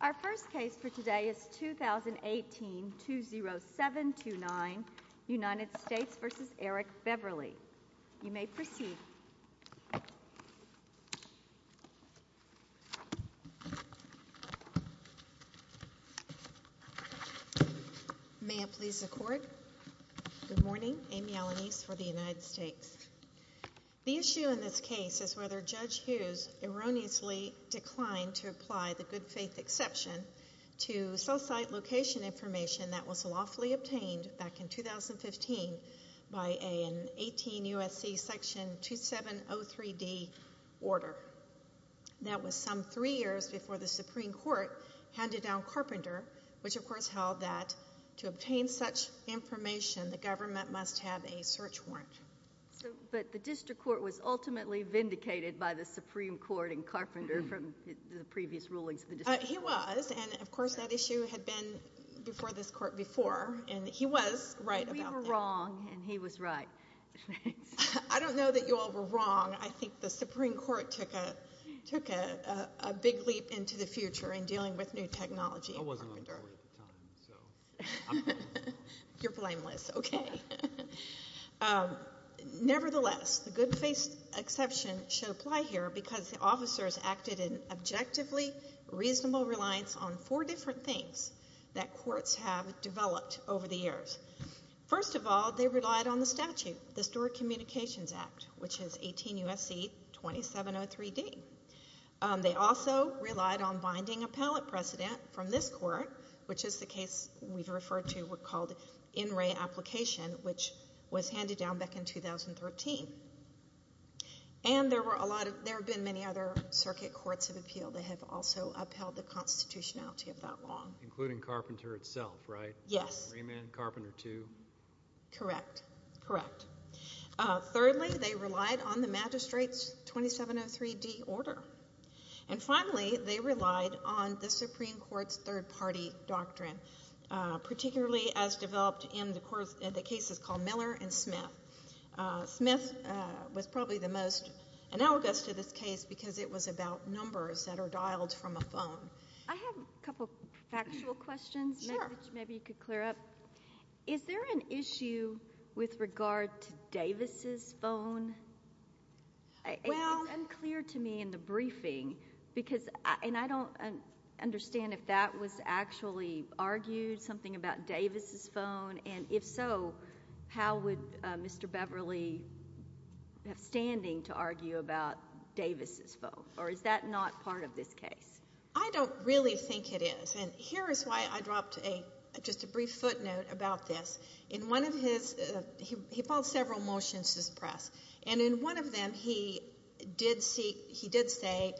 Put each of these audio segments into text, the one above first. Our first case for today is 2018-20729 United States v. Eric Beverly. You may proceed. May I please accord? Good morning. Amy Alanis for the United States. The issue in this case is whether Judge Hughes erroneously declined to apply the good faith exception to cell site location information that was lawfully obtained back in 2015 by an 18 U.S.C. Section 2703D order. That was some three years before the Supreme Court handed down Carpenter, which of course held that to obtain such information, the government must have a search warrant. But the district court was ultimately vindicated by the Supreme Court in Carpenter from the previous rulings of the district court. He was, and of course that issue had been before this court before, and he was right about that. We were wrong, and he was right. I don't know that you all were wrong. I think the Supreme Court took a big leap into the future in dealing with new technology in Carpenter. I wasn't on the court at the time, so I'm not going to lie. You're blameless. Okay. Nevertheless, the good faith exception should apply here because the officers acted in objectively reasonable reliance on four different things that courts have developed over the years. First of all, they relied on the statute, the Historic Communications Act, which is 18 U.S.C. 2703D. They also relied on binding appellate precedent from this court, which is the case we've referred to, what's called in-ray application, which was handed down back in 2013. And there have been many other circuit courts of appeal that have also upheld the constitutionality of that law. Including Carpenter itself, right? Yes. Raymond, Carpenter II? Correct. Correct. Thirdly, they relied on the magistrate's 2703D order. And finally, they relied on the Supreme Court's third-party doctrine, particularly as developed in the cases called Miller and Smith. Smith was probably the most analogous to this case because it was about numbers that are dialed from a phone. I have a couple of factual questions, which maybe you could clear up. Is there an issue with regard to Davis' phone? It was unclear to me in the briefing, and I don't understand if that was actually argued, something about Davis' phone, and if so, how would Mr. Beverly have standing to argue about Davis' phone? Or is that not part of this case? I don't really think it is. Here is why I dropped just a brief footnote about this. In one of his... He filed several motions to suppress, and in one of them, he did say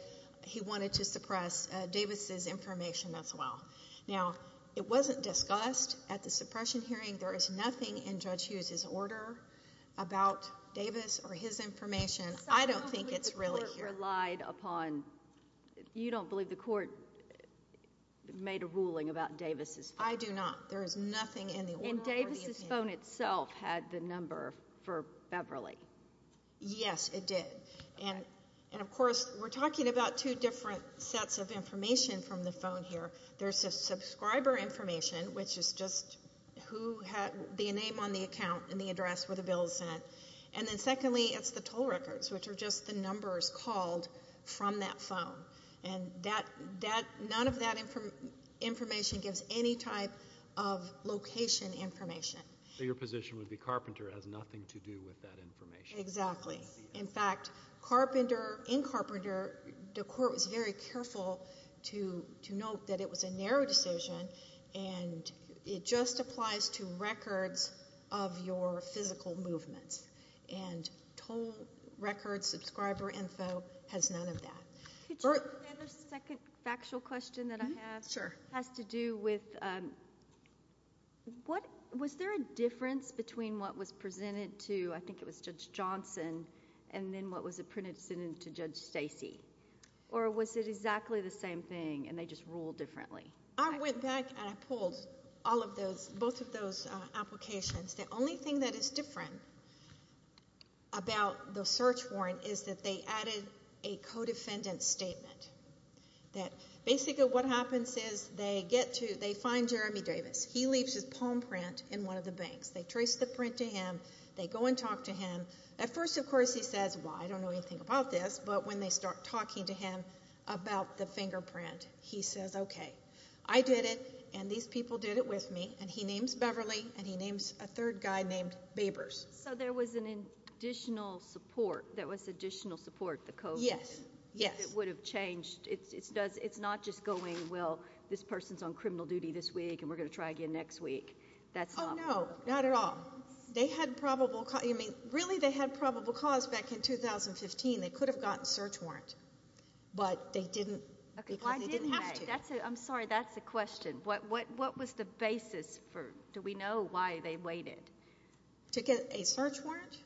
he wanted to suppress Davis' information as well. Now, it wasn't discussed at the suppression hearing. There is nothing in Judge Hughes' order about Davis or his information. I don't think it's really here. You relied upon... You don't believe the court made a ruling about Davis' phone? I do not. There is nothing in the order. And Davis' phone itself had the number for Beverly. Yes, it did. And of course, we're talking about two different sets of information from the phone here. There's a subscriber information, which is just the name on the account and the address where the bill is sent. And then secondly, it's the toll records, which are just the numbers called from that phone. And none of that information gives any type of location information. Your position would be Carpenter has nothing to do with that information. Exactly. In fact, in Carpenter, the court was very careful to note that it was a narrow decision, and it just applies to records of your physical movements, and toll records, subscriber info has none of that. Could you add a second factual question that I have? Sure. It has to do with... Was there a difference between what was presented to, I think it was Judge Johnson, and then what was presented to Judge Stacy? Or was it exactly the same thing, and they just ruled differently? I went back and I pulled both of those applications. The only thing that is different about the search warrant is that they added a co-defendant statement that basically what happens is they find Jeremy Davis. He leaves his palm print in one of the banks. They trace the print to him. They go and talk to him. At first, of course, he says, well, I don't know anything about this, but when they start talking to him about the fingerprint, he says, okay. I did it, and these people did it with me, and he names Beverly, and he names a third guy named Babers. There was an additional support, there was additional support, the co-defendant. Yes. Yes. It would have changed. It's not just going, well, this person's on criminal duty this week, and we're going to try again next week. That's not... Oh, no. Not at all. They had probable... Really, they had probable cause back in 2015. They could have gotten search warrant, but they didn't because they didn't have to. I'm sorry. That's the question. What was the basis for, do we know why they waited? To get a search warrant?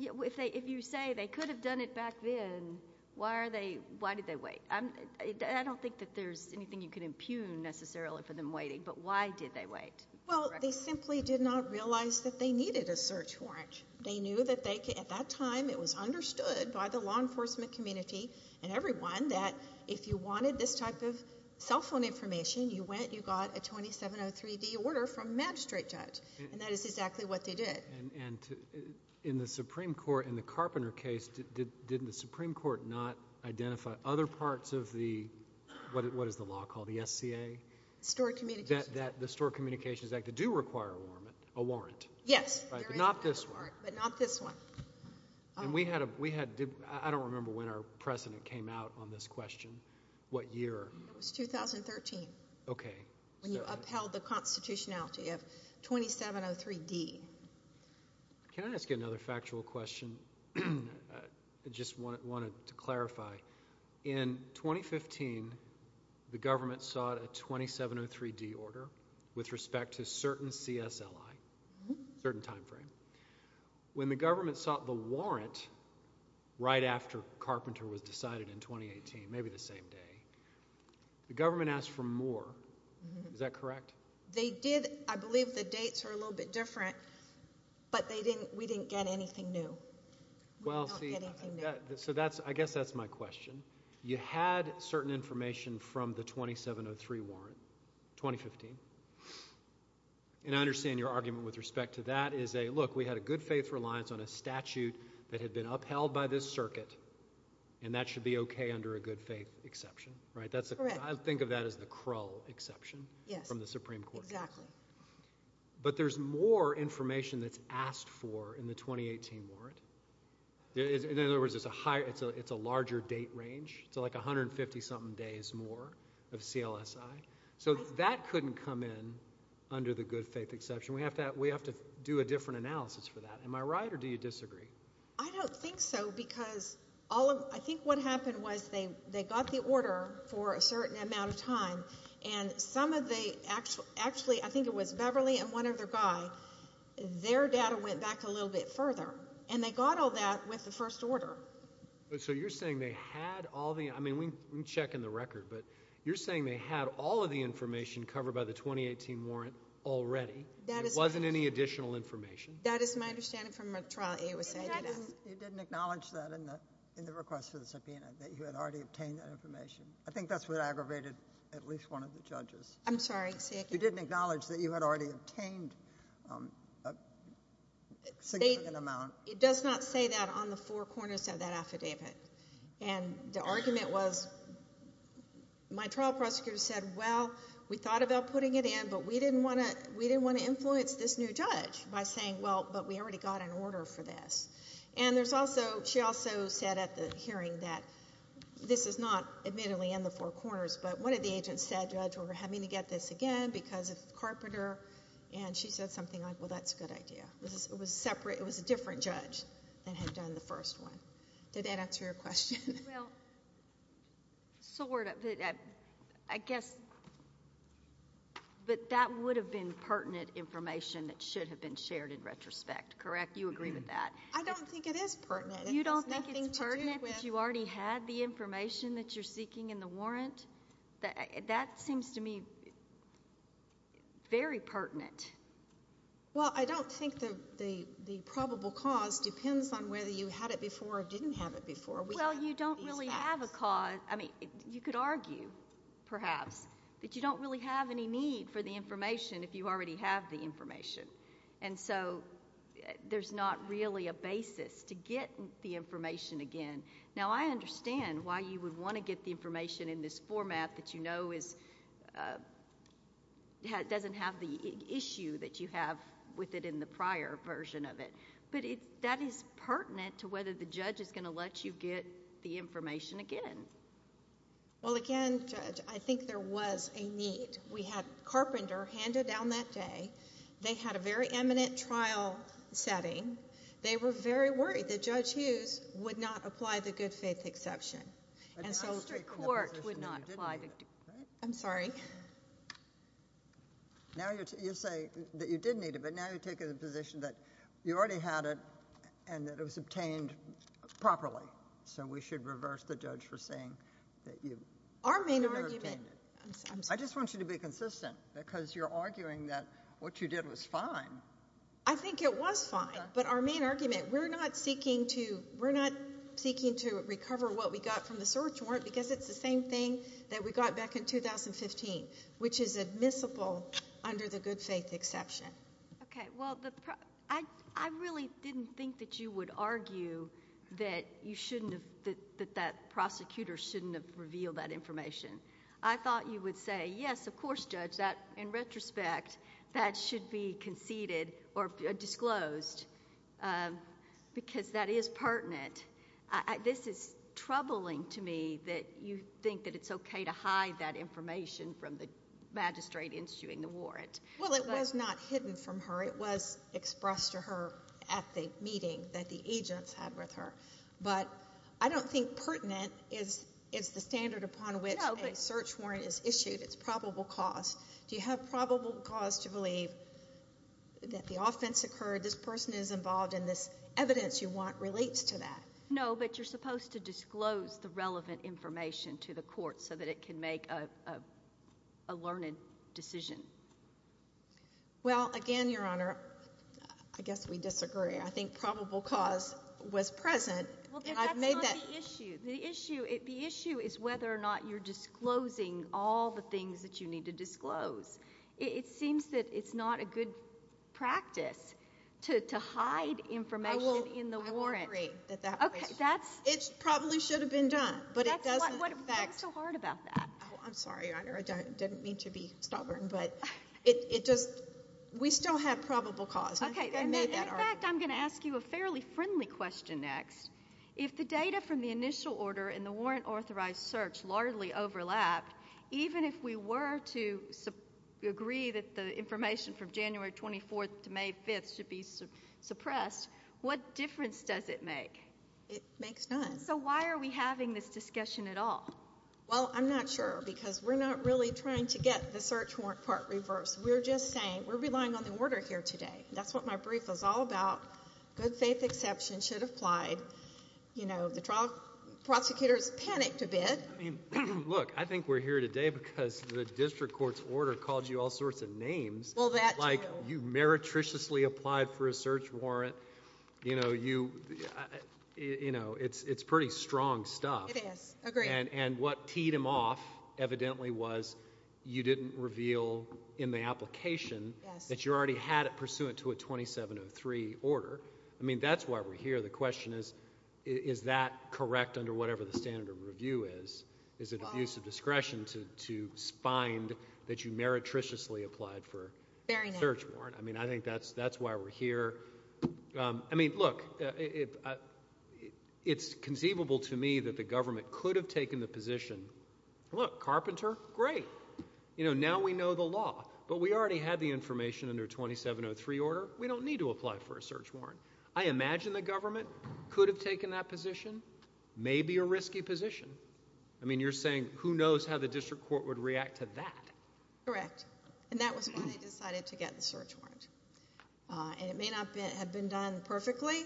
If you say they could have done it back then, why did they wait? I don't think that there's anything you can impugn necessarily for them waiting, but why did they wait? Well, they simply did not realize that they needed a search warrant. They knew that at that time, it was understood by the law enforcement community and everyone that if you wanted this type of cell phone information, you went, you got a 2703D order from a magistrate judge, and that is exactly what they did. In the Supreme Court, in the Carpenter case, didn't the Supreme Court not identify other parts of the, what is the law called, the SCA? Stored communications. The Stored Communications Act that do require a warrant. Yes. Not this one. But not this one. And we had, we had, I don't remember when our president came out on this question. What year? It was 2013. Okay. When you upheld the constitutionality of 2703D. Can I ask you another factual question? I just wanted to clarify, in 2015, the government sought a 2703D order with respect to certain CSLI, certain time frame. When the government sought the warrant right after Carpenter was decided in 2018, maybe the same day, the government asked for more, is that correct? They did. I believe the dates are a little bit different, but they didn't, we didn't get anything new. Well see, so that's, I guess that's my question. You had certain information from the 2703 warrant, 2015, and I understand your argument with respect to that is a, look, we had a good faith reliance on a statute that had been upheld by this circuit, and that should be okay under a good faith exception, right? Correct. I think of that as the Krull exception. Yes. From the Supreme Court. Exactly. But there's more information that's asked for in the 2018 warrant, in other words, it's a larger date range, so like 150-something days more of CLSI. So that couldn't come in under the good faith exception, we have to, we have to do a different analysis for that. Am I right, or do you disagree? I don't think so, because all of, I think what happened was they, they got the order for a certain amount of time, and some of the, actually, I think it was Beverly and one other guy, their data went back a little bit further, and they got all that with the first order. So you're saying they had all the, I mean, we can check in the record, but you're saying they had all of the information covered by the 2018 warrant already, there wasn't any additional information? That is my understanding from the trial that you were saying to us. You didn't acknowledge that in the request for the subpoena, that you had already obtained that information. I think that's what aggravated at least one of the judges. I'm sorry, say again. You didn't acknowledge that you had already obtained a significant amount. It does not say that on the four corners of that affidavit, and the argument was, my trial prosecutor said, well, we thought about putting it in, but we didn't want to influence this new judge by saying, well, but we already got an order for this. And there's also, she also said at the hearing that, this is not admittedly in the four corners, but one of the agents said, Judge, we're having to get this again because of the carpenter, and she said something like, well, that's a good idea. It was a separate, it was a different judge that had done the first one. Did that answer your question? Well, sort of, but I guess, but that would have been pertinent information that should have been shared in retrospect, correct? You agree with that? I don't think it is pertinent. You don't think it's pertinent that you already had the information that you're seeking in the warrant? That seems to me very pertinent. Well, I don't think the probable cause depends on whether you had it before or didn't have it before. Well, you don't really have a cause, I mean, you could argue, perhaps, that you don't really have any need for the information if you already have the information. And so, there's not really a basis to get the information again. Now, I understand why you would want to get the information in this format that you know is... doesn't have the issue that you have with it in the prior version of it, but that is pertinent to whether the judge is going to let you get the information again. Well, again, Judge, I think there was a need. We had Carpenter handed down that day. They had a very eminent trial setting. They were very worried that Judge Hughes would not apply the good faith exception. And so, the district court would not apply the... I'm sorry. Now, you say that you did need it, but now you're taking the position that you already had it and that it was obtained properly, so we should reverse the judge for saying that you... Our main argument...... could have obtained it. I'm sorry. I just want you to be consistent because you're arguing that what you did was fine. I think it was fine, but our main argument, we're not seeking to... we're not seeking to recover what we got from the search warrant because it's the same thing that we got back in 2015, which is admissible under the good faith exception. Okay. Well, I really didn't think that you would argue that you shouldn't have... that that prosecutor shouldn't have revealed that information. I thought you would say, yes, of course, Judge, that in retrospect, that should be conceded or disclosed because that is pertinent. This is troubling to me that you think that it's okay to hide that information from the magistrate issuing the warrant. Well, it was not hidden from her. It was expressed to her at the meeting that the agents had with her, but I don't think pertinent is the standard upon which a search warrant is issued. It's probable cause. Do you have probable cause to believe that the offense occurred, this person is involved, and this evidence you want relates to that? No, but you're supposed to disclose the relevant information to the court so that it can make a learned decision. Well, again, Your Honor, I guess we disagree. I think probable cause was present, and I've made that... Well, that's not the issue. The issue is whether or not you're disclosing all the things that you need to disclose. It seems that it's not a good practice to hide information in the warrant. I will agree that that... Okay. That's... It probably should have been done, but it doesn't... That's what's so hard about that. Oh, I'm sorry, Your Honor. I didn't mean to be stubborn, but it just... we still have probable cause. I think I made that argument. Okay. Well, if the official order and the warrant-authorized search largely overlap, even if we were to agree that the information from January 24th to May 5th should be suppressed, what difference does it make? It makes none. So why are we having this discussion at all? Well, I'm not sure, because we're not really trying to get the search warrant part reversed. We're just saying we're relying on the order here today. That's what my brief was all about. Good faith exception should have applied. You know, the trial prosecutors panicked a bit. Look, I think we're here today because the district court's order called you all sorts of names. Well, that... Like, you meretriciously applied for a search warrant. You know, it's pretty strong stuff. It is. Agreed. And what teed them off, evidently, was you didn't reveal in the application... Yes.... that you already had it pursuant to a 2703 order. I mean, that's why we're here. The question is, is that correct under whatever the standard of review is? Is it a use of discretion to find that you meretriciously applied for a search warrant? Very nice. I mean, I think that's why we're here. I mean, look, it's conceivable to me that the government could have taken the position, look, Carpenter, great. You know, now we know the law, but we already had the information under a 2703 order. We don't need to apply for a search warrant. I imagine the government could have taken that position. Maybe a risky position. I mean, you're saying, who knows how the district court would react to that? Correct. And that was why they decided to get the search warrant. And it may not have been done perfectly,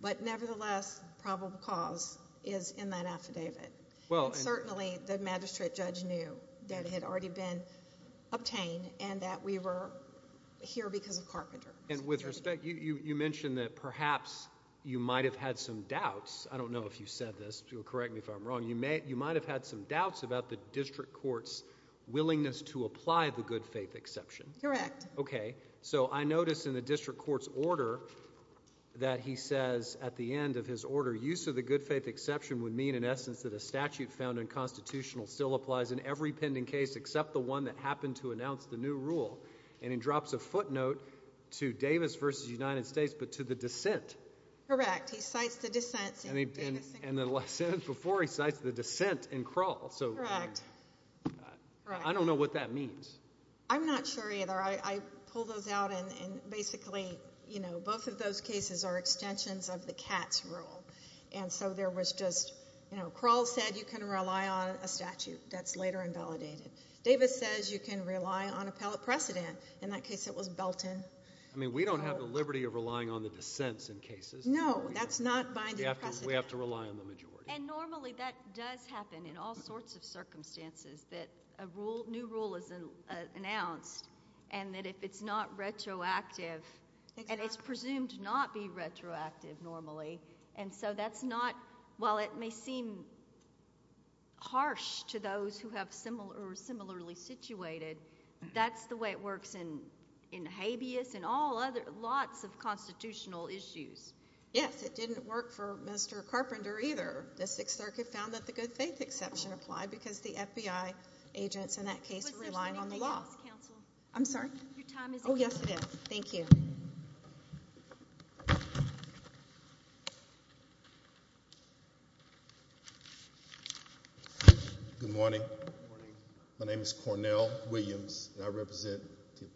but nevertheless, probable cause is in that affidavit. Well... And certainly, the magistrate judge knew that it had already been obtained and that we were here because of Carpenter. And with respect, you mentioned that perhaps you might have had some doubts. I don't know if you said this. You'll correct me if I'm wrong. You might have had some doubts about the district court's willingness to apply the good faith exception. Correct. Okay. So I notice in the district court's order that he says at the end of his order, use of the good faith exception would mean, in essence, that a statute found unconstitutional still applies in every pending case except the one that happened to announce the new rule. And he drops a footnote to Davis v. United States, but to the dissent. Correct. He cites the dissent. And the last sentence before, he cites the dissent in Krall. So... Correct. I don't know what that means. I'm not sure either. I pull those out and basically, you know, both of those cases are extensions of the Katz rule. And so there was just, you know, Krall said you can rely on a statute that's later invalidated. Davis says you can rely on appellate precedent. In that case, it was Belton. I mean, we don't have the liberty of relying on the dissents in cases. No, that's not binding precedent. We have to rely on the majority. And normally, that does happen in all sorts of circumstances that a new rule is announced and that if it's not retroactive, and it's presumed not be retroactive normally, and so that's not... while it may seem harsh to those who are similarly situated, that's the way it works in habeas and all other... lots of constitutional issues. Yes. It didn't work for Mr. Carpenter either. The Sixth Circuit found that the good faith exception applied because the FBI agents in that case were relying on the law. Was this when they did this, counsel? I'm sorry? Your time is up. Oh, yes, it is. Thank you. Good morning. Good morning. My name is Cornell Williams, and I represent the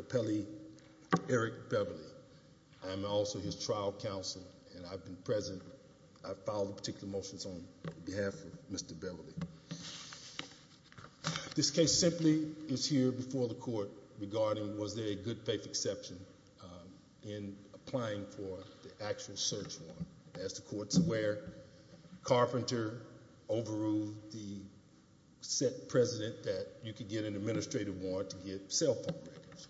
appellee Eric Beverly. I am also his trial counsel, and I've been present... I filed particular motions on behalf of Mr. Beverly. This case simply is here before the Court regarding was there a good faith exception in applying for the actual search warrant. As the Court's aware, Carpenter overruled the set precedent that you could get an administrative warrant to get cell phone records.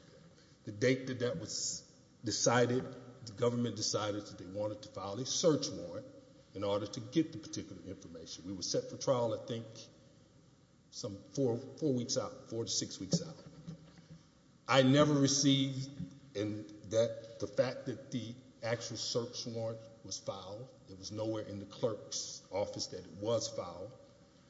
The date that that was decided, the government decided that they wanted to file a search warrant in order to get the particular information. We were set for trial, I think, some four weeks out, four to six weeks out. I never received the fact that the actual search warrant was filed. It was nowhere in the clerk's office that it was filed.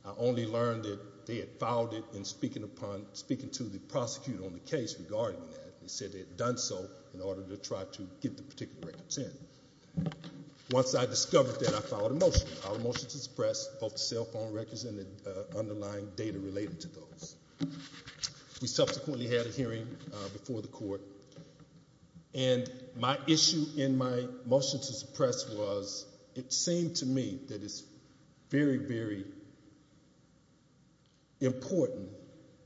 I only learned that they had filed it in speaking to the prosecutor on the case regarding that. They said they had done so in order to try to get the particular records in. Once I discovered that, I filed a motion. I filed a motion to suppress both the cell phone records and the underlying data related to those. We subsequently had a hearing before the Court. My issue in my motion to suppress was it seemed to me that it's very, very important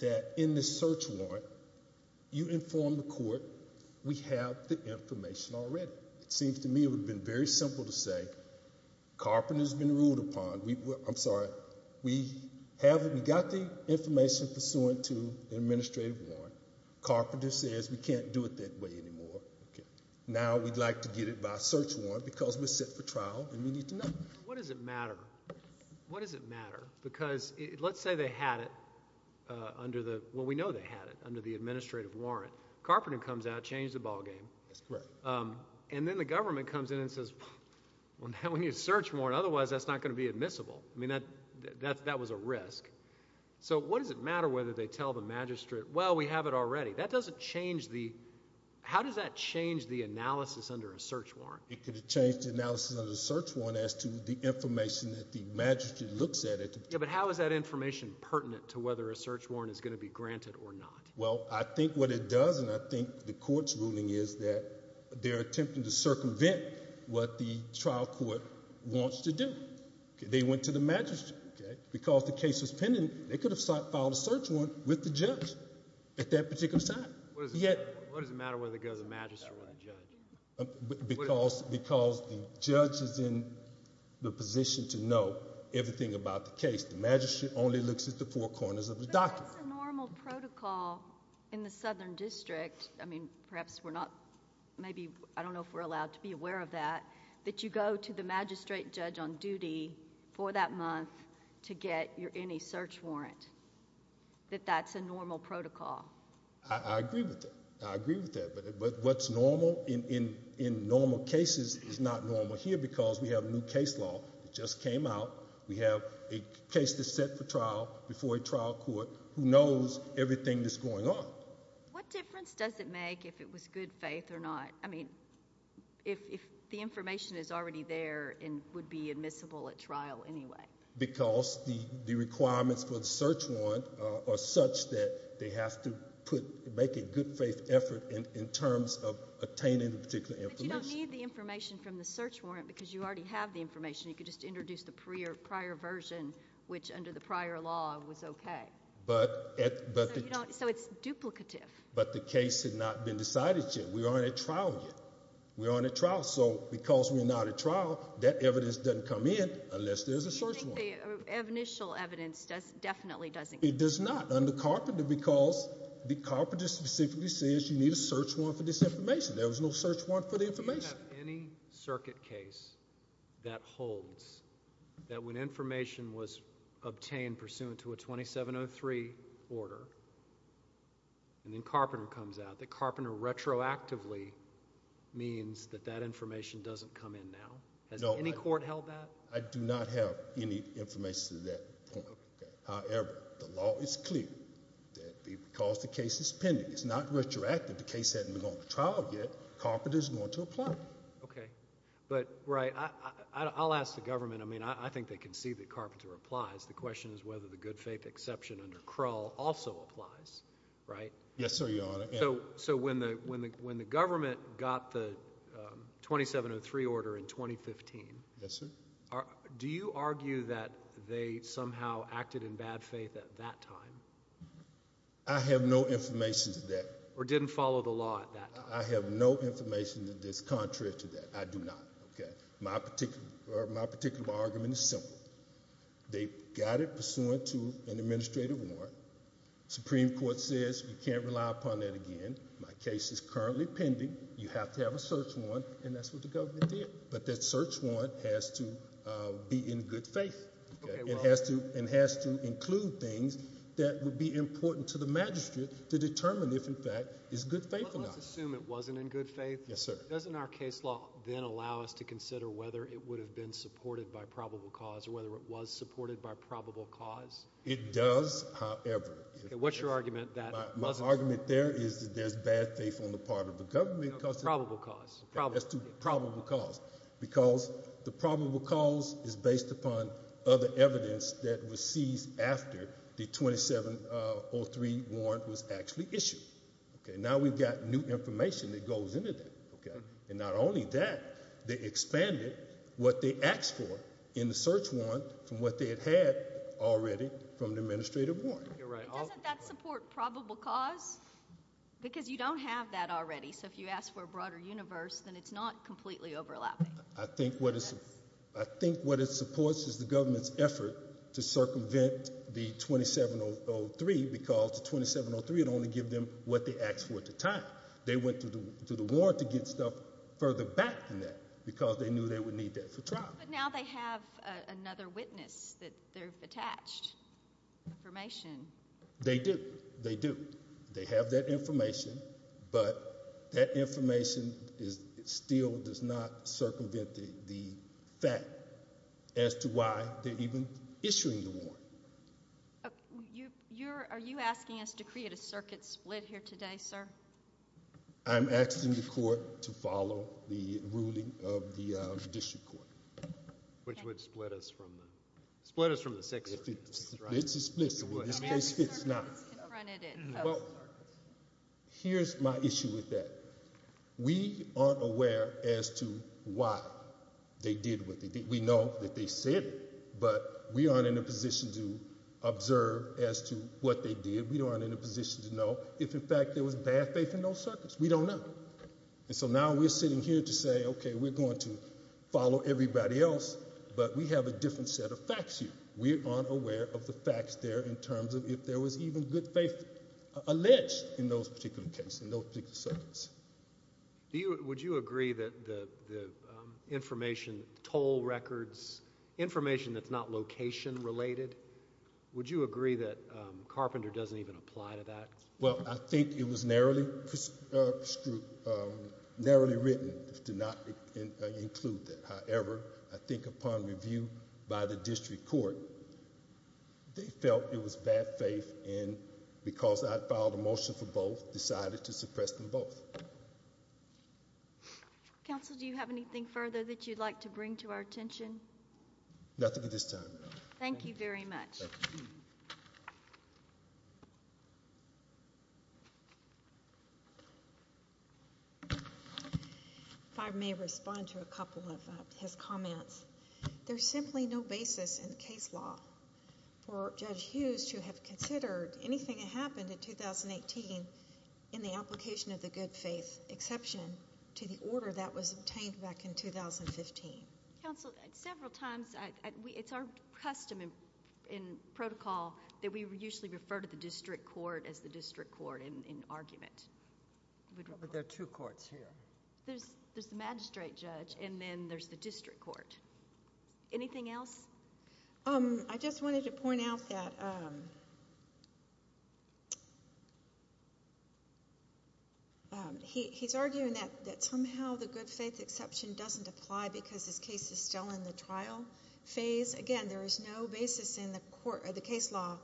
that in the search warrant, you inform the Court we have the information already. It seems to me it would have been very simple to say Carpenter's been ruled upon. I'm sorry. We got the information pursuant to the administrative warrant. Carpenter says we can't do it that way anymore. Now we'd like to get it by search warrant because we're set for trial and we need to know. What does it matter? What does it matter? Because let's say they had it under the—well, we know they had it under the administrative warrant. Carpenter comes out, changed the ballgame. That's correct. Then the government comes in and says, well, now we need a search warrant. Otherwise, that's not going to be admissible. I mean, that was a risk. So what does it matter whether they tell the magistrate, well, we have it already? That doesn't change the—how does that change the analysis under a search warrant? It could have changed the analysis under the search warrant as to the information that the magistrate looks at it. Yeah, but how is that information pertinent to whether a search warrant is going to be granted or not? Well, I think what it does, and I think the Court's ruling is that they're attempting to circumvent what the trial court wants to do. They went to the magistrate. Because the case was pending, they could have filed a search warrant with the judge at that particular time. What does it matter whether it goes to the magistrate or the judge? Because the judge is in the position to know everything about the case. The magistrate only looks at the four corners of the document. But that's a normal protocol in the Southern District. I mean, perhaps we're not—maybe—I don't know if we're allowed to be aware of that, that you go to the magistrate and judge on duty for that month to get any search warrant, that that's a normal protocol. I agree with that. I agree with that. But what's normal in normal cases is not normal here because we have a new case law that just came out. We have a case that's set for trial before a trial court who knows everything that's going on. What difference does it make if it was good faith or not? I mean, if the information is already there and would be admissible at trial anyway. Because the requirements for the search warrant are such that they have to make a good faith effort in terms of attaining the particular information. But you don't need the information from the search warrant because you already have the information. You could just introduce the prior version, which under the prior law was okay. So it's duplicative. But the case has not been decided yet. We aren't at trial yet. We aren't at trial. So because we're not at trial, that evidence doesn't come in unless there's a search warrant. I think the initial evidence definitely doesn't come in. It does not under Carpenter because the Carpenter specifically says you need a search warrant for this information. There was no search warrant for the information. Do you have any circuit case that holds that when information was obtained pursuant to a 2703 order and then Carpenter comes out, that Carpenter retroactively means that that information doesn't come in now? Has any court held that? I do not have any information to that point. However, the law is clear that because the case is pending, it's not retroactive. The case hasn't gone to trial yet. Carpenter is going to apply. Okay. But, right, I'll ask the government. I mean, I think they can see that Carpenter applies. The question is whether the good faith exception under Krull also applies, right? Yes, sir, Your Honor. So when the government got the 2703 order in 2015, do you argue that they somehow acted in bad faith at that time? I have no information to that. Or didn't follow the law at that time? I have no information that's contrary to that. I do not. My particular argument is simple. They got it pursuant to an administrative warrant. Supreme Court says you can't rely upon that again. My case is currently pending. You have to have a search warrant, and that's what the government did. But that search warrant has to be in good faith. It has to include things that would be important to the magistrate to determine if, in fact, it's good faith or not. Let's assume it wasn't in good faith. Yes, sir. Doesn't our case law then allow us to consider whether it would have been supported by probable cause or whether it was supported by probable cause? It does, however. What's your argument? My argument there is that there's bad faith on the part of the government. Probable cause. Probable cause. Because the probable cause is based upon other evidence that was seized after the 2703 warrant was actually issued. Now we've got new information that goes into that. And not only that, they expanded what they asked for in the search warrant from what they had had already from the administrative warrant. Doesn't that support probable cause? Because you don't have that already. So if you ask for a broader universe, then it's not completely overlapping. I think what it supports is the government's effort to circumvent the 2703 because the 2703 would only give them what they asked for at the time. They went to the warrant to get stuff further back than that because they knew they would need that for trial. But now they have another witness that they're attached. Information. They do. They do. They have that information. But that information still does not circumvent the fact as to why they're even issuing the warrant. Are you asking us to create a circuit split here today, sir? I'm asking the court to follow the ruling of the district court. Which would split us from the six. Well, here's my issue with that. We aren't aware as to why they did what they did. We know that they said it, but we aren't in a position to observe as to what they did. We aren't in a position to know if, in fact, there was bad faith in those circuits. We don't know. And so now we're sitting here to say, okay, we're going to follow everybody else, but we have a different set of facts here. We aren't aware of the facts there in terms of if there was even good faith alleged in those particular cases, in those particular circuits. Would you agree that the information, toll records, information that's not location related, would you agree that Carpenter doesn't even apply to that? Well, I think it was narrowly written to not include that. However, I think upon review by the district court, they felt it was bad faith, and because I filed a motion for both, decided to suppress them both. Counsel, do you have anything further that you'd like to bring to our attention? Nothing at this time. Thank you very much. Thank you. If I may respond to a couple of his comments. There's simply no basis in case law for Judge Hughes to have considered anything that happened in 2018 in the application of the good faith exception to the order that was obtained back in 2015. Counsel, several times, it's our custom in protocol that we usually refer to the district court as the district court in argument. There are two courts here. There's the magistrate judge, and then there's the district court. Anything else? I just wanted to point out that he's arguing that somehow the good faith exception doesn't apply because his case is still in the trial phase. Again, there is no basis in the case law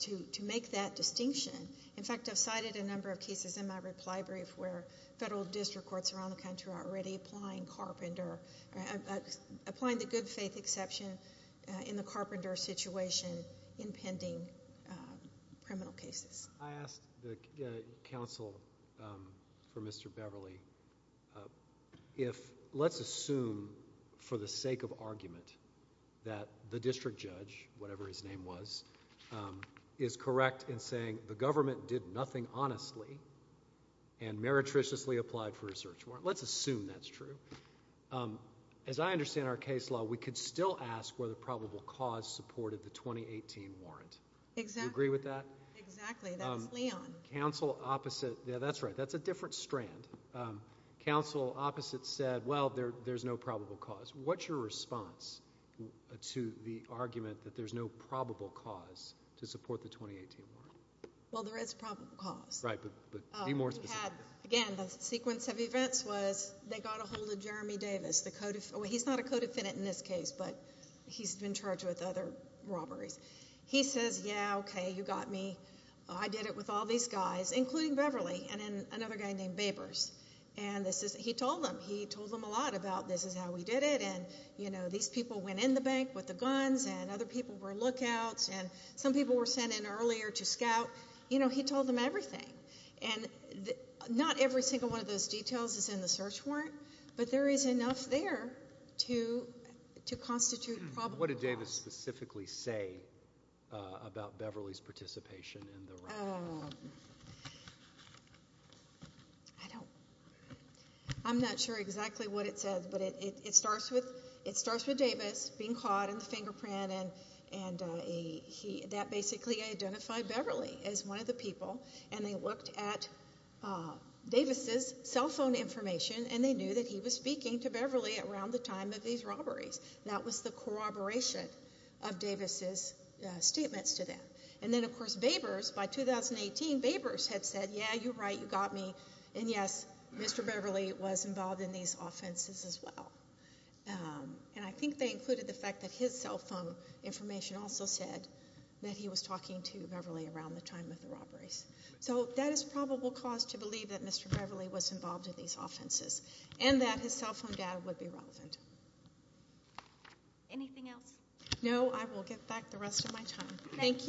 to make that distinction. In fact, I've cited a number of cases in my reply brief where federal district courts around the country are already applying the good faith exception in the Carpenter situation in pending criminal cases. I asked the counsel for Mr. Beverly if let's assume for the sake of argument that the district judge, whatever his name was, is correct in saying the government did nothing honestly and meretriciously applied for a search warrant. Let's assume that's true. As I understand our case law, we could still ask whether probable cause supported the 2018 warrant. Do you agree with that? Exactly. That's Leon. Counsel opposite. Yeah, that's right. That's a different strand. Counsel opposite said, well, there's no probable cause. What's your response to the argument that there's no probable cause to support the 2018 warrant? Well, there is probable cause. Right, but be more specific. Again, the sequence of events was they got a hold of Jeremy Davis. He's not a co-defendant in this case, but he's been charged with other robberies. He says, yeah, okay, you got me. I did it with all these guys, including Beverly and another guy named Babers. He told them. He told them a lot about this is how we did it, and these people went in the bank with the guns, and other people were lookouts, and some people were sent in earlier to scout. He told them everything. Not every single one of those details is in the search warrant, but there is enough there to constitute probable cause. What did Davis specifically say about Beverly's participation in the robbery? I'm not sure exactly what it says, but it starts with Davis being caught in the fingerprint, and that basically identified Beverly as one of the people, and they looked at Davis' cell phone information, and they knew that he was speaking to Beverly around the time of these robberies. That was the corroboration of Davis' statements to them. Then, of course, Babers, by 2018, Babers had said, yeah, you're right, you got me, and yes, Mr. Beverly was involved in these offenses as well. I think they included the fact that his cell phone information also said that he was talking to Beverly around the time of the robberies. That is probable cause to believe that Mr. Beverly was involved in these offenses, and that his cell phone data would be relevant. Anything else? No, I will get back the rest of my time. Thank you.